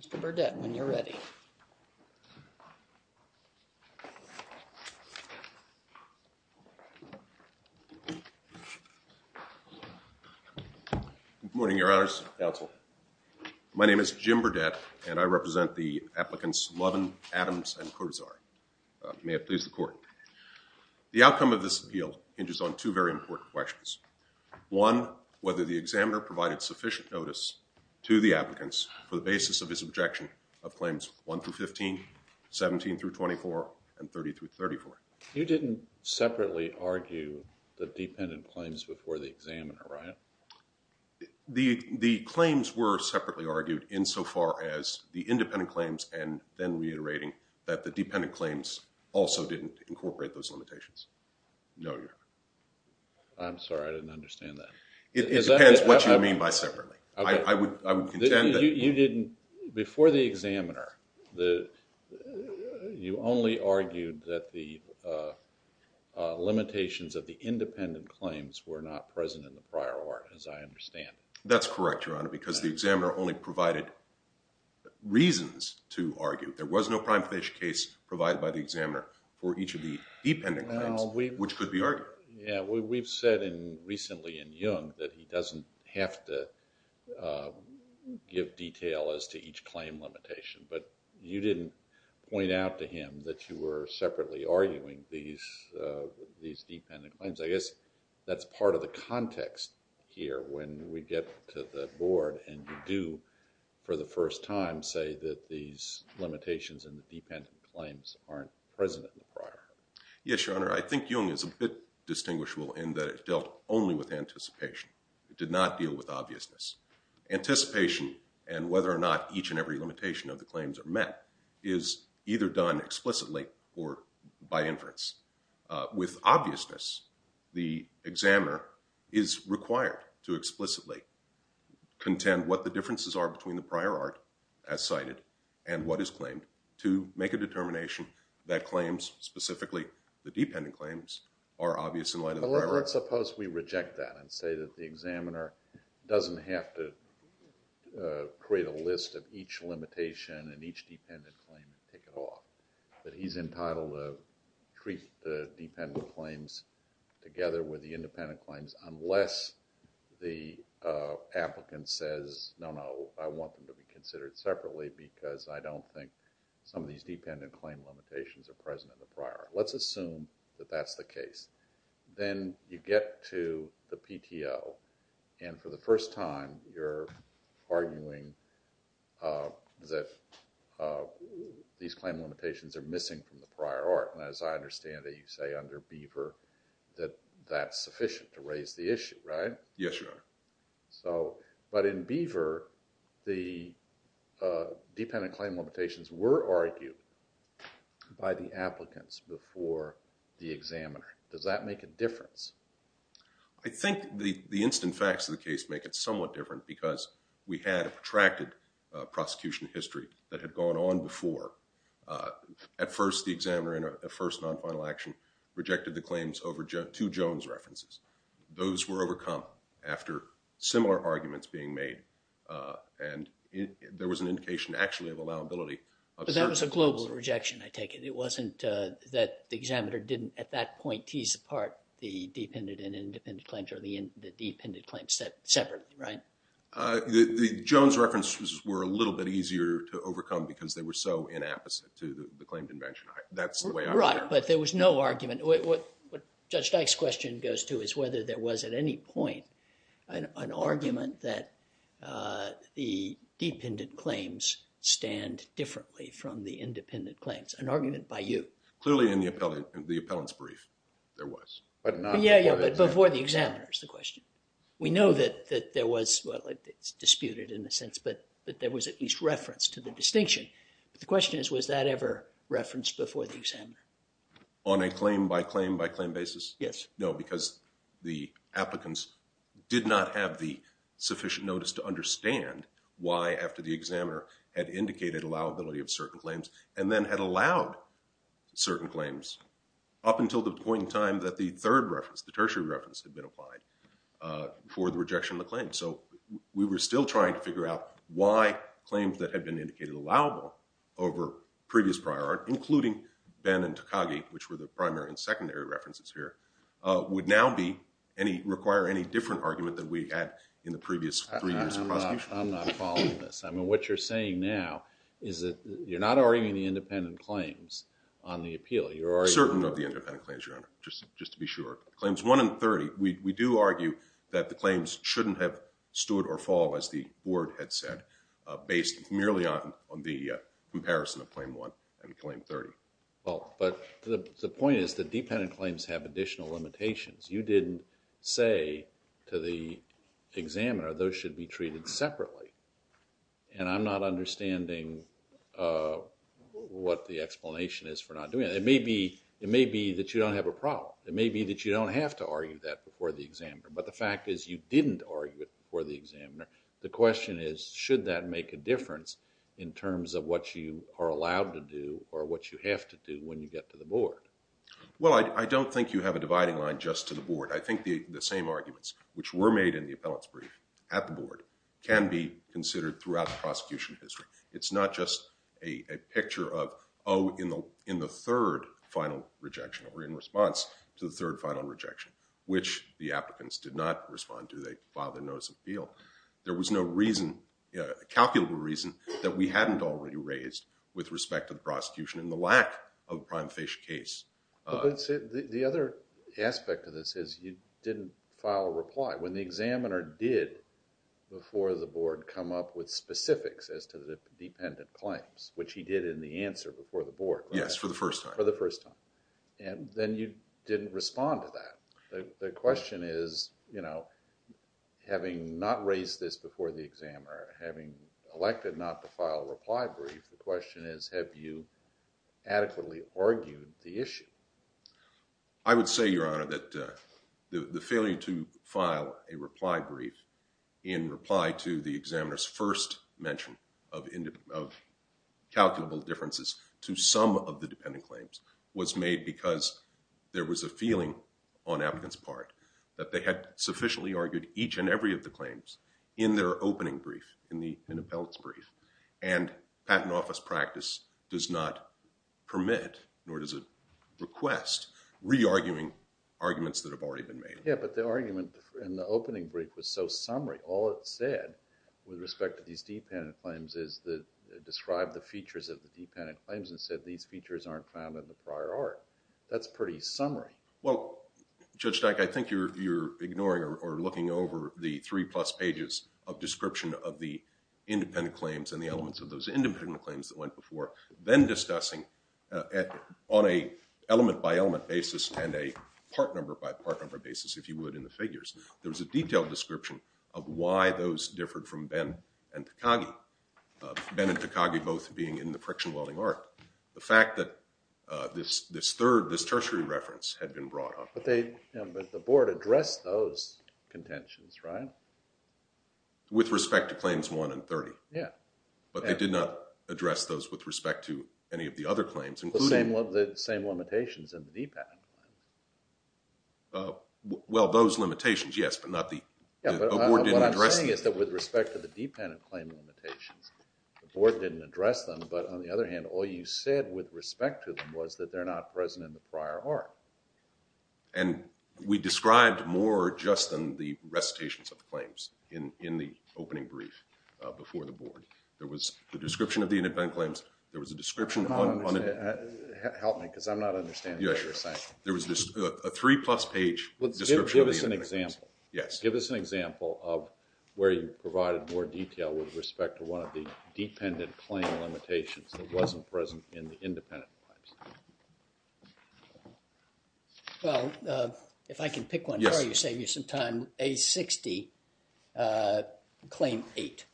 Mr. Burdett, when you're ready. MR. BURDETT My name is Jim Burdett, and I represent the applicants Lovin, Adams, and Cortazar. May it please the Court. The outcome of this appeal hinges on two very important questions. One, whether the examiner provided sufficient notice to the applicants for the basis of his objection of Claims 1-15, 17-24, and 30-34. THE COURT You didn't separately argue the dependent claims before the examiner, right? MR. BURDETT The claims were separately argued insofar as the independent claims and then reiterating that the dependent claims also didn't incorporate those limitations. No, Your Honor. THE COURT I'm sorry. I didn't understand that. MR. BURDETT It depends what you mean by separately. I would contend that you didn't, before the examiner, you only argued that the limitations of the independent claims were not present in the prior order, as I understand. THE COURT That's correct, Your Honor, because the examiner only provided reasons to argue. There was no prime financial case provided by the examiner for each of the dependent claims, which could be argued. THE COURT We've said recently in Jung that he doesn't have to give detail as to each claim limitation, but you didn't point out to him that you were separately arguing these dependent claims. I guess that's part of the context here when we get to the Board and you do, for the first time, say that these limitations in the dependent claims aren't present in the prior order. MR. BURDETT Yes, Your Honor. I think Jung is a bit distinguishable in that it dealt only with anticipation. It did not deal with obviousness. Anticipation and whether or not each and every limitation of the claims are met is either done explicitly or by inference. With obviousness, the examiner is required to explicitly contend what the differences are between the prior art, as cited, and what is claimed to make a determination that claims specifically the dependent claims are obvious in light of the prior art. THE COURT Let's suppose we reject that and say that the examiner doesn't have to create a list of each limitation and each dependent claim and take it off, that he's entitled to treat the dependent claims together with the independent claims unless the applicant says, no, no, I want them to be considered separately because I don't think some of these are missing from the prior art. Let's assume that that's the case. Then you get to the PTO and for the first time you're arguing that these claim limitations are missing from the prior art. As I understand it, you say under Beaver that that's sufficient to raise But in Beaver, the dependent claim limitations were argued by the applicants before the examiner. Does that make a difference? I think the instant facts of the case make it somewhat different because we had a protracted prosecution history that had gone on before. At first, the examiner in a first non-final action rejected the claims over two Jones references. Those were overcome after similar arguments being made and there was an indication actually of allowability. But that was a global rejection, I take it. It wasn't that the examiner didn't at that point tease apart the dependent and independent claims or the dependent claims separately, right? The Jones references were a little bit easier to overcome because they were so inapposite to the claim convention. That's the way I look at it. Right, but there was no argument. What Judge Dyke's question goes to is whether there was at any point an argument that the dependent claims stand differently from the independent claims. An argument by you. Clearly in the appellant's brief there was. Yeah, but before the examiner is the question. We know that there was, well it's disputed in a sense, but that there was at least reference to the distinction. But the question is, was that ever referenced before the examiner? On a claim by claim by claim basis? Yes. No, because the applicants did not have the sufficient notice to understand why after the examiner had indicated allowability of certain claims and then had allowed certain claims up until the point in time that the third reference, the tertiary reference, had been applied for the rejection of the claim. So we were still trying to figure out why claims that had been indicated allowable over previous prior art, including Benn and Takagi, which were the primary and secondary references here, would now require any different argument than we had in the previous three years of prosecution. I'm not following this. I mean what you're saying now is that you're not arguing the independent claims on the appeal. Certain of the independent claims, Your Honor, just to be sure. Claims 1 and 30, we do argue that the claims shouldn't have stood or fall, as the board had said, based merely on the comparison of claim 1 and claim 30. Well, but the point is that dependent claims have additional limitations. You didn't say to the examiner those should be treated separately, and I'm not understanding what the explanation is for not doing it. It may be that you don't have a problem. It may be that you don't have to argue that before the examiner, but the fact is you didn't argue it before the examiner. The question is should that make a difference in terms of what you are allowed to do or what you have to do when you get to the board? Well, I don't think you have a dividing line just to the board. I think the same arguments which were made in the appellate's brief at the board can be considered throughout the prosecution history. It's not just a picture of, oh, in the third final rejection, or in response to the third final rejection, which the applicants did not respond to. They filed a notice of appeal. There was no reason, calculable reason, that we hadn't already raised with respect to the prosecution and the lack of a prime fish case. But the other aspect of this is you didn't file a reply. When the examiner did before the board come up with specifics as to the dependent claims, which he did in the answer before the board. Yes, for the first time. For the first time. And then you didn't respond to that. The question is, you know, having not raised this before the examiner, having elected not to file a reply brief, the question is have you adequately argued the issue? I would say, Your Honor, that the failure to file a reply brief in reply to the examiner's first mention of calculable differences to some of the dependent claims was made because there was a feeling on applicants' part that they had sufficiently argued each and every of the claims in their opening brief, in the appellate's brief, and patent office practice does not permit, nor does it request, re-arguing arguments that have already been made. Yes, but the argument in the opening brief was so summary. All it said, with respect to these dependent claims, is that it described the features of the dependent claims and said these features aren't found in the prior art. That's pretty summary. Well, Judge Dyck, I think you're ignoring or looking over the three plus pages of description of the independent claims and the elements of those independent claims that went before, then discussing on an element by element basis and a part number by part number basis, if you would, in the figures. There was a detailed description of why those differed from Ben and Takagi, Ben and Takagi both being in the friction welding art. The fact that this third, this tertiary reference had been brought up. But the board addressed those contentions, right? With respect to claims one and 30. Yeah. But they did not address those with respect to any of the other claims, including— The same limitations in the dependent claim. Well, those limitations, yes, but not the— Yeah, but what I'm saying is that with respect to the dependent claim limitations, the board didn't address them, but on the other hand, all you said with respect to them was that they're not present in the prior art. And we described more just in the recitations of the claims in the opening brief before the board. There was the description of the independent claims. There was a description on— Help me because I'm not understanding what you're saying. There was a three-plus page description of the independent claims. Give us an example. Yes. Give us an example of where you provided more detail with respect to one of the dependent claim limitations that wasn't present in the independent claims. Well, if I can pick one for you, save you some time. Yes. A60, Claim 8,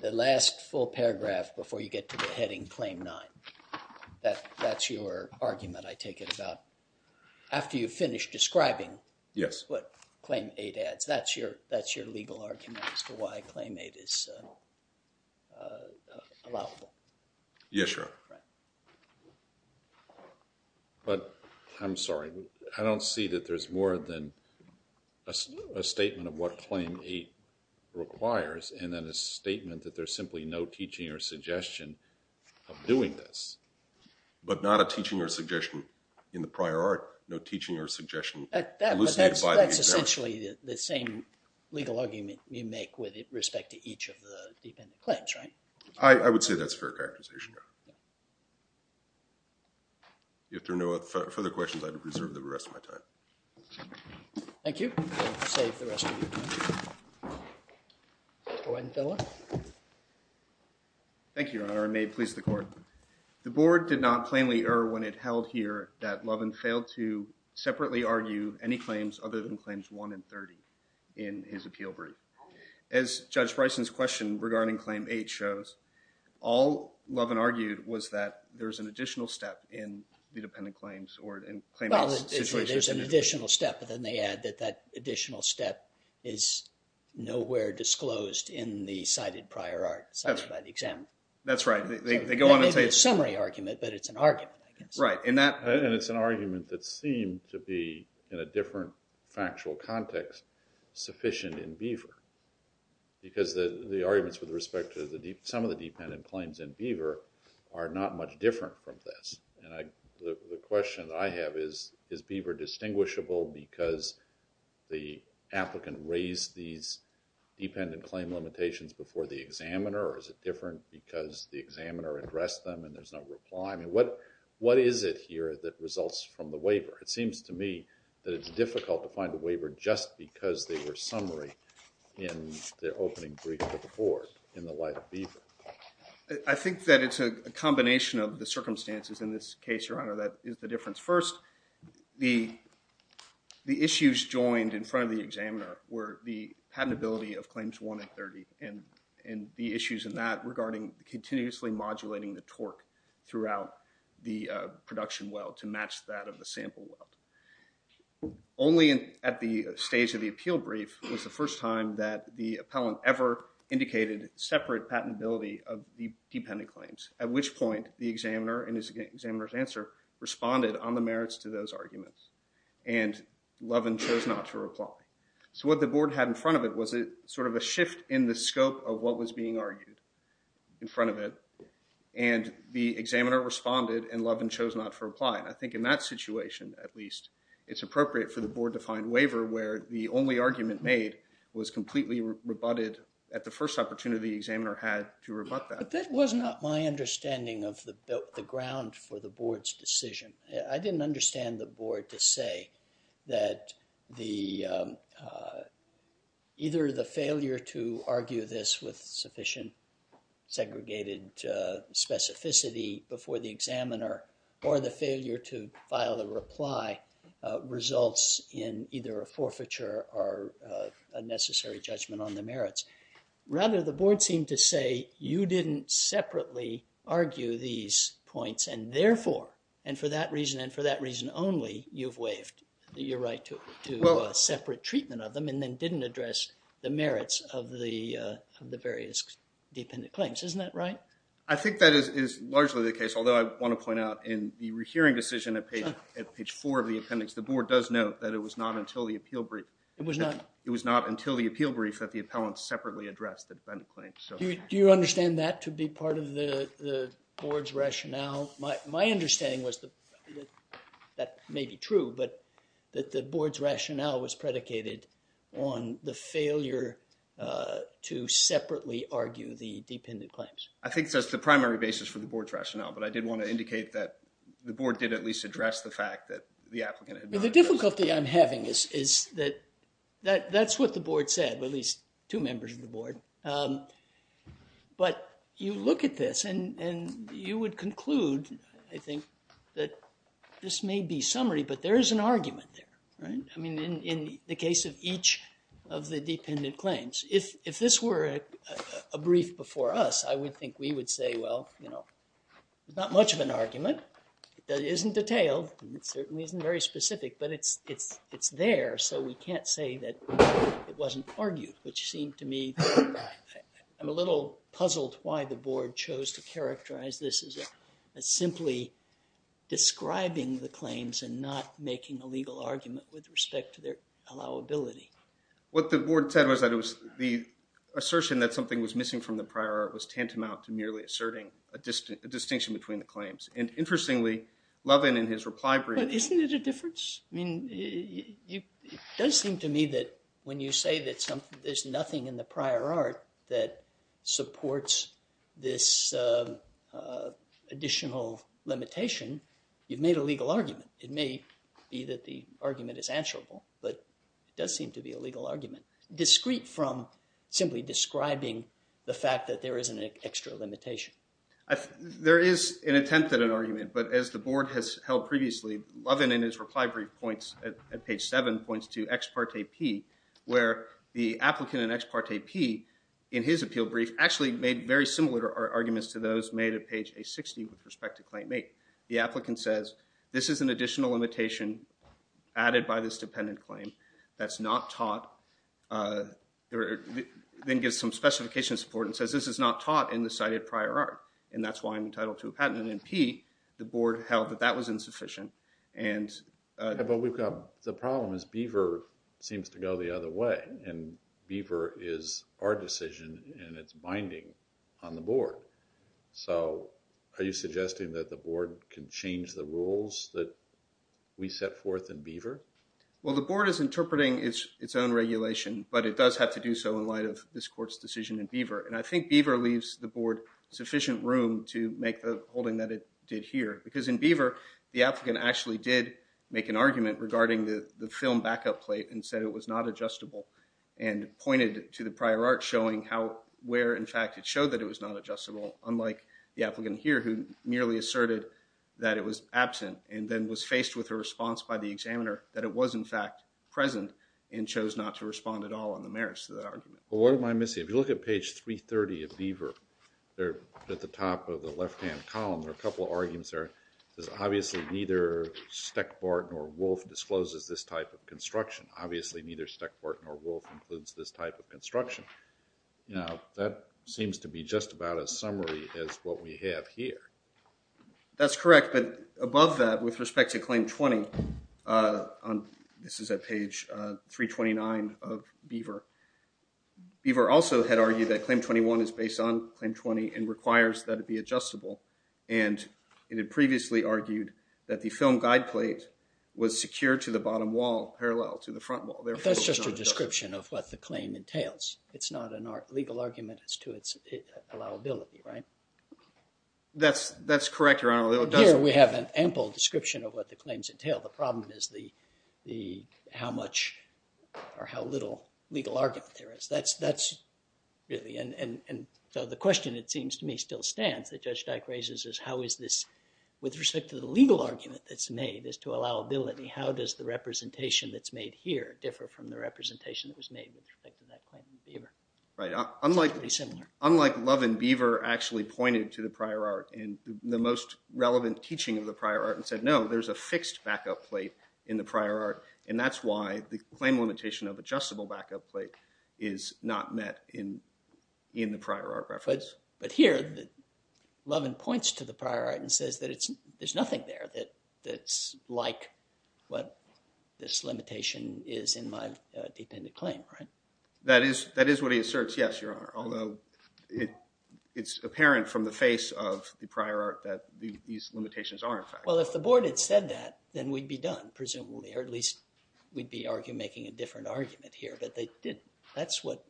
the last full paragraph before you get to the heading Claim 9. That's your argument, I take it, about— After you finish describing— Yes. —what Claim 8 adds. That's your legal argument as to why Claim 8 is allowable. Yes, Your Honor. Right. But I'm sorry. I don't see that there's more than a statement of what Claim 8 requires and then a statement that there's simply no teaching or suggestion of doing this. But not a teaching or suggestion in the prior art. No teaching or suggestion elucidated by the examiner. That's essentially the same legal argument you make with respect to each of the dependent claims, right? I would say that's fair characterization, Your Honor. If there are no further questions, I'd reserve the rest of my time. Thank you. Save the rest of your time. Go ahead and fill it. Thank you, Your Honor, and may it please the Court. The Board did not plainly err when it held here that Loven failed to separately argue any claims other than Claims 1 and 30 in his appeal brief. As Judge Bryson's question regarding Claim 8 shows, all Loven argued was that there's an additional step in the dependent claims or in Claim 8's situation. Well, there's an additional step, but then they add that that additional step is nowhere disclosed in the cited prior art cited by the examiner. That's right. They go on and say it's a summary argument, but it's an argument, I guess. Right. And it's an argument that seemed to be, in a different factual context, sufficient in Beaver. Because the arguments with respect to some of the dependent claims in Beaver are not much different from this. The question that I have is, is Beaver distinguishable because the applicant raised these dependent claim limitations before the examiner or is it different because the examiner addressed them and there's no reply? I mean, what is it here that results from the waiver? It seems to me that it's difficult to find a waiver just because they were summary in the opening brief of the board in the light of Beaver. I think that it's a combination of the circumstances in this case, Your Honor, that is the difference. First, the issues joined in front of the examiner were the patentability of Claims 1 and 30 and the issues in that regarding continuously modulating the torque throughout the production weld to match that of the sample weld. Only at the stage of the appeal brief was the first time that the appellant ever indicated separate patentability of the dependent claims, at which point the examiner and his examiner's answer responded on the merits to those arguments and Loven chose not to reply. So what the board had in front of it was sort of a shift in the scope of what was being argued in front of it and the examiner responded and Loven chose not to reply. I think in that situation, at least, it's appropriate for the board to find waiver where the only argument made was completely rebutted at the first opportunity the examiner had to rebut that. But that was not my understanding of the ground for the board's decision. I didn't understand the board to say that either the failure to argue this with sufficient segregated specificity before the examiner or the failure to file a reply results in either a forfeiture or a necessary judgment on the merits. Rather, the board seemed to say you didn't separately argue these points and therefore, and for that reason and for that reason only, you've waived your right to separate treatment of them and then didn't address the merits of the various dependent claims. Isn't that right? I think that is largely the case, although I want to point out in the rehearing decision at page 4 of the appendix, the board does note that it was not until the appeal brief that the appellant separately addressed the dependent claims. Do you understand that to be part of the board's rationale? My understanding was that that may be true, but that the board's rationale was predicated on the failure to separately argue the dependent claims. I think that's the primary basis for the board's rationale, but I did want to indicate that the board did at least address the fact that the applicant had not addressed it. The difficulty I'm having is that that's what the board said, at least two members of the board. But you look at this and you would conclude, I think, that this may be summary, but there is an argument there, right? I mean, in the case of each of the dependent claims. If this were a brief before us, I would think we would say, well, you know, not much of an argument. It isn't detailed and it certainly isn't very specific, but it's there, so we can't say that it wasn't argued, which seemed to me... I'm a little puzzled why the board chose to characterize this as simply describing the claims and not making a legal argument with respect to their allowability. What the board said was that the assertion that something was missing from the prior art was tantamount to merely asserting a distinction between the claims. And interestingly, Lovin in his reply brief... But isn't it a difference? I mean, it does seem to me that when you say that there's nothing in the prior art that supports this additional limitation, you've made a legal argument. It may be that the argument is answerable, but it does seem to be a legal argument, discreet from simply describing the fact that there isn't an extra limitation. There is an attempt at an argument, but as the board has held previously, Lovin in his reply brief at page 7 points to ex parte P, where the applicant in ex parte P, in his appeal brief, actually made very similar arguments to those made at page A60 with respect to claim eight. The applicant says, this is an additional limitation added by this dependent claim that's not taught. Then gives some specification support and says, this is not taught in the cited prior art, and that's why I'm entitled to a patent. And in P, the board held that that was insufficient. But the problem is Beaver seems to go the other way, and Beaver is our decision, and it's binding on the board. So are you suggesting that the board can change the rules that we set forth in Beaver? Well, the board is interpreting its own regulation, but it does have to do so in light of this court's decision in Beaver. And I think Beaver leaves the board sufficient room to make the holding that it did here. Because in Beaver, the applicant actually did make an argument regarding the film backup plate and said it was not adjustable and pointed to the prior art showing where, in fact, it showed that it was not adjustable, unlike the applicant here, who merely asserted that it was absent and then was faced with a response by the examiner that it was, in fact, present and chose not to respond at all on the merits of that argument. Well, what am I missing? If you look at page 330 of Beaver, at the top of the left-hand column, there are a couple of arguments there. It says, obviously, neither Steckbart nor Wolfe discloses this type of construction. Obviously, neither Steckbart nor Wolfe includes this type of construction. Now, that seems to be just about as summary as what we have here. That's correct. But above that, with respect to Claim 20, this is at page 329 of Beaver, Beaver also had argued that Claim 21 is based on Claim 20 and requires that it be adjustable. And it had previously argued that the film guide plate was secured to the bottom wall parallel to the front wall. That's just a description of what the claim entails. It's not a legal argument as to its allowability, right? That's correct, Your Honor. Here, we have an ample description of what the claims entail. The problem is how little legal argument there is. Really. And so the question, it seems to me, still stands that Judge Dyke raises is, how is this, with respect to the legal argument that's made, is to allowability. How does the representation that's made here differ from the representation that was made with respect to that claim in Beaver? Right. Unlike Love and Beaver actually pointed to the prior art and the most relevant teaching of the prior art and said, no, there's a fixed backup plate in the prior art. And that's why the claim limitation of adjustable backup plate is not met in the prior art reference. But here, Lovin points to the prior art and says that there's nothing there that's like what this limitation is in my dependent claim, right? That is what he asserts, yes, Your Honor. Although it's apparent from the face of the prior art that these limitations are, in fact. Well, if the board had said that, then we'd be done, presumably, or at least we'd be making a different argument here. But they didn't. That's what,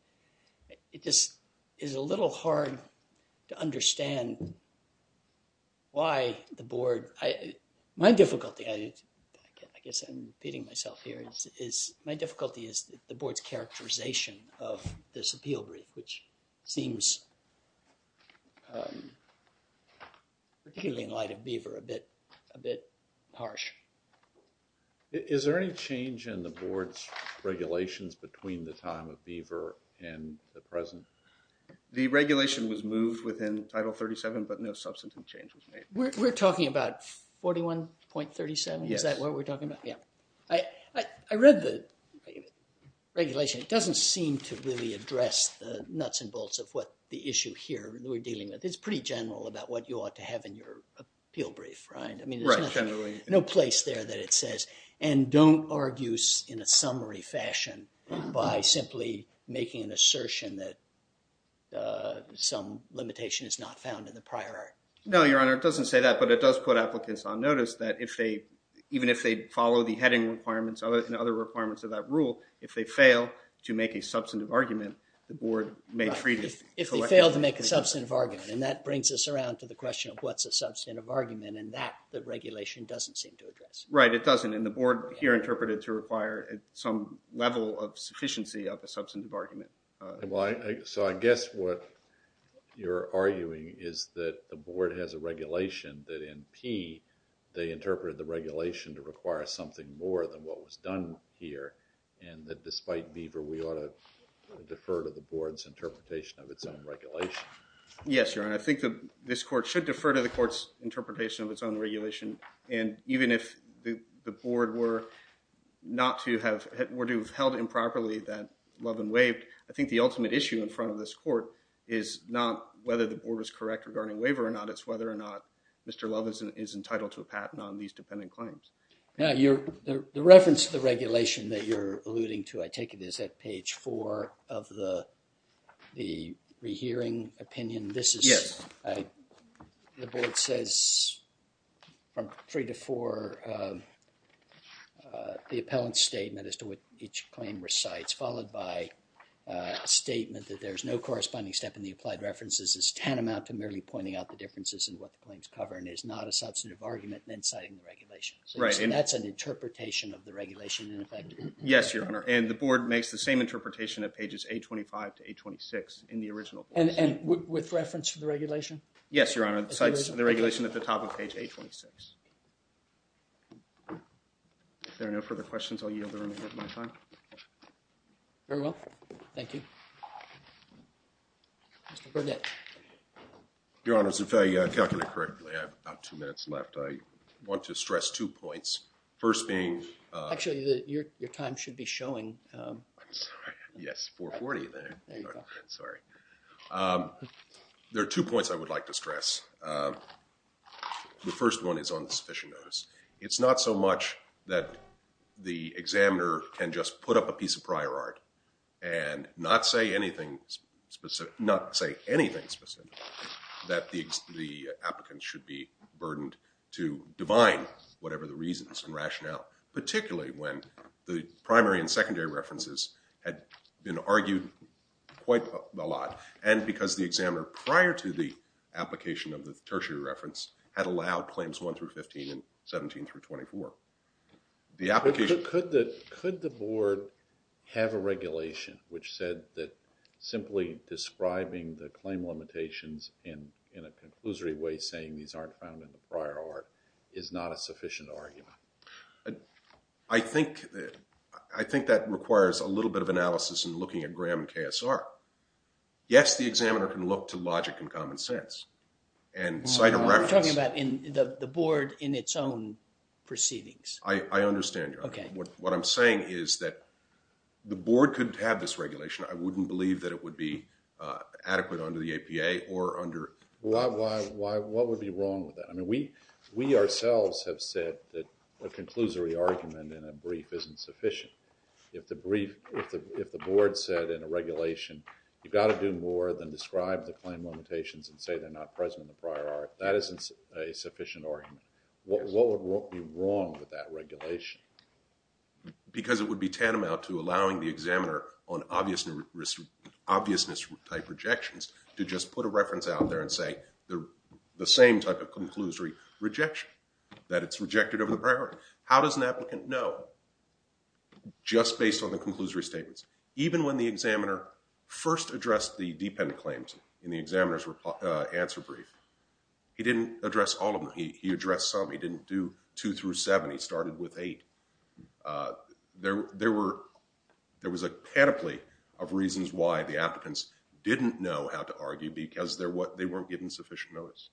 it just is a little hard to understand why the board, my difficulty, I guess I'm repeating myself here, is my difficulty is the board's characterization of this appeal brief, which seems, particularly in light of Beaver, a bit harsh. Is there any change in the board's regulations between the time of Beaver and the present? The regulation was moved within Title 37, but no substantive change was made. We're talking about 41.37? Yes. Is that what we're talking about? Yeah. I read the regulation. It doesn't seem to really address the nuts and bolts of what the issue here we're dealing with. It's pretty general about what you ought to have in your appeal brief, right? Right, generally. No place there that it says. And don't argue in a summary fashion by simply making an assertion that some limitation is not found in the prior art. No, Your Honor, it doesn't say that. But it does put applicants on notice that even if they follow the heading requirements and other requirements of that rule, if they fail to make a substantive argument, the board may treat it. If they fail to make a substantive argument. And that brings us around to the question of what's a substantive argument. And that, the regulation doesn't seem to address. Right, it doesn't. And the board here interpreted to require some level of sufficiency of a substantive argument. So I guess what you're arguing is that the board has a regulation that in P, they interpreted the regulation to require something more than what was done here. And that despite Beaver, we ought to defer to the board's interpretation of its own regulation. Yes, Your Honor. I think this court should defer to the court's interpretation of its own regulation. And even if the board were not to have, were to have held improperly that Loven waived, I think the ultimate issue in front of this court is not whether the board was correct regarding waiver or not, it's whether or not Mr. Loven is entitled to a patent on these dependent claims. Now, the reference to the regulation that you're alluding to, I take it is at page four of the rehearing opinion. Yes. The board says from three to four, the appellant's statement as to what each claim recites, followed by a statement that there's no corresponding step in the applied references is tantamount to merely pointing out the differences in what the claims cover and is not a substantive argument in citing the regulations. Right. And that's an interpretation of the regulation in effect. Yes, Your Honor. And the board makes the same interpretation at pages 825 to 826 in the original. And with reference to the regulation? Yes, Your Honor. It cites the regulation at the top of page 826. If there are no further questions, I'll yield the remaining of my time. Very well. Thank you. Mr. Burnett. Your Honors, if I calculated correctly, I have about two minutes left. I want to stress two points. First being. Actually, your time should be showing. Yes, 440 there. There you go. Sorry. There are two points I would like to stress. The first one is on sufficient notice. It's not so much that the examiner can just put up a piece of prior art and not say anything specific, not say anything specific, that the applicant should be burdened to divine whatever the reasons and rationale, particularly when the primary and secondary references had been argued quite a lot. And because the examiner, prior to the application of the tertiary reference, had allowed claims 1 through 15 and 17 through 24. Could the board have a regulation which said that simply describing the claim limitations in a conclusory way, saying these aren't found in the prior art, is not a sufficient argument? I think that requires a little bit of analysis in looking at Graham and KSR. Yes, the examiner can look to logic and common sense and cite a reference. I'm talking about the board in its own proceedings. I understand, Your Honor. OK. What I'm saying is that the board could have this regulation. I wouldn't believe that it would be adequate under the APA or under. Why? What would be wrong with that? I mean, we ourselves have said that a conclusory argument in a brief isn't sufficient. If the board said in a regulation, you've got to do more than describe the claim limitations and say they're not present in the prior art, that isn't a sufficient argument. What would be wrong with that regulation? Because it would be tantamount to allowing the examiner on obviousness-type rejections to just put a reference out there and say the same type of conclusory rejection, that it's rejected over the prior art. How does an applicant know just based on the conclusory statements? Even when the examiner first addressed the dependent claims in the examiner's answer brief, he didn't address all of them. He addressed some. He didn't do two through seven. He started with eight. There was a pedigree of reasons why the applicants didn't know how to argue because they weren't given sufficient notice.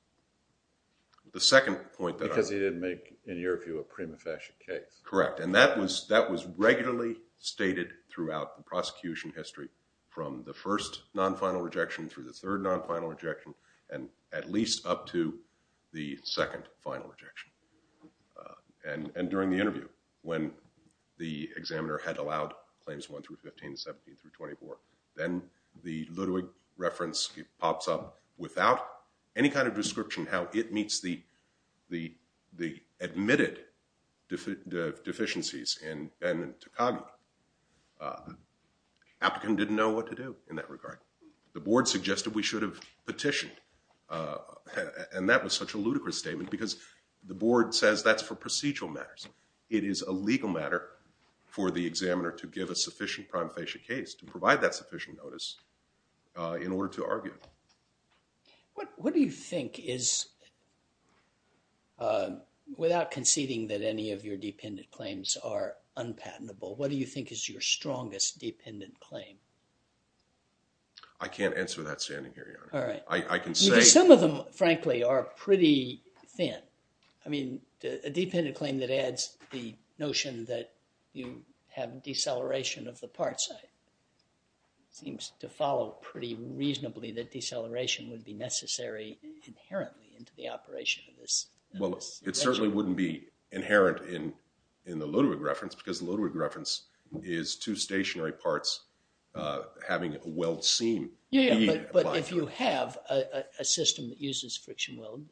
Because he didn't make, in your view, a prima facie case. Correct. And that was regularly stated throughout the prosecution history from the first non-final rejection through the third non-final rejection and at least up to the second final rejection. And during the interview, when the examiner had allowed claims one through 15, 17 through 24, then the Ludwig reference pops up without any kind of description how it meets the admitted deficiencies in Ben and Takagi. Applicant didn't know what to do in that regard. The board suggested we should have petitioned. And that was such a ludicrous statement because the board says that's for procedural matters. It is a legal matter for the examiner to give a sufficient prima facie case to provide that sufficient notice in order to argue. What do you think is, without conceding that any of your dependent claims are unpatentable, what do you think is your strongest dependent claim? I can't answer that standing here, Your Honor. All right. Some of them, frankly, are pretty thin. A dependent claim that adds the notion that you have deceleration of the parts. It seems to follow pretty reasonably that deceleration would be necessary inherently into the operation of this. Well, it certainly wouldn't be inherent in the Ludwig reference because the Ludwig reference is two stationary parts having a weld seam. Yeah, but if you have a system that uses friction weld,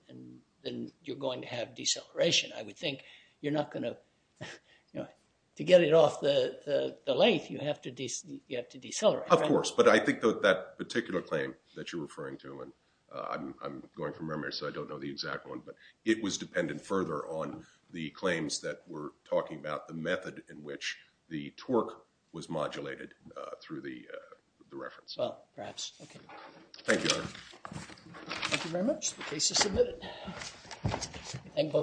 then you're going to have deceleration, I would think. You're not going to. To get it off the lathe, you have to decelerate. Of course, but I think that particular claim that you're referring to, and I'm going from memory so I don't know the exact one, but it was dependent further on the claims that were talking about the method in which the torque was modulated through the reference. Well, perhaps. Thank you, Your Honor. Thank you very much. The case is submitted.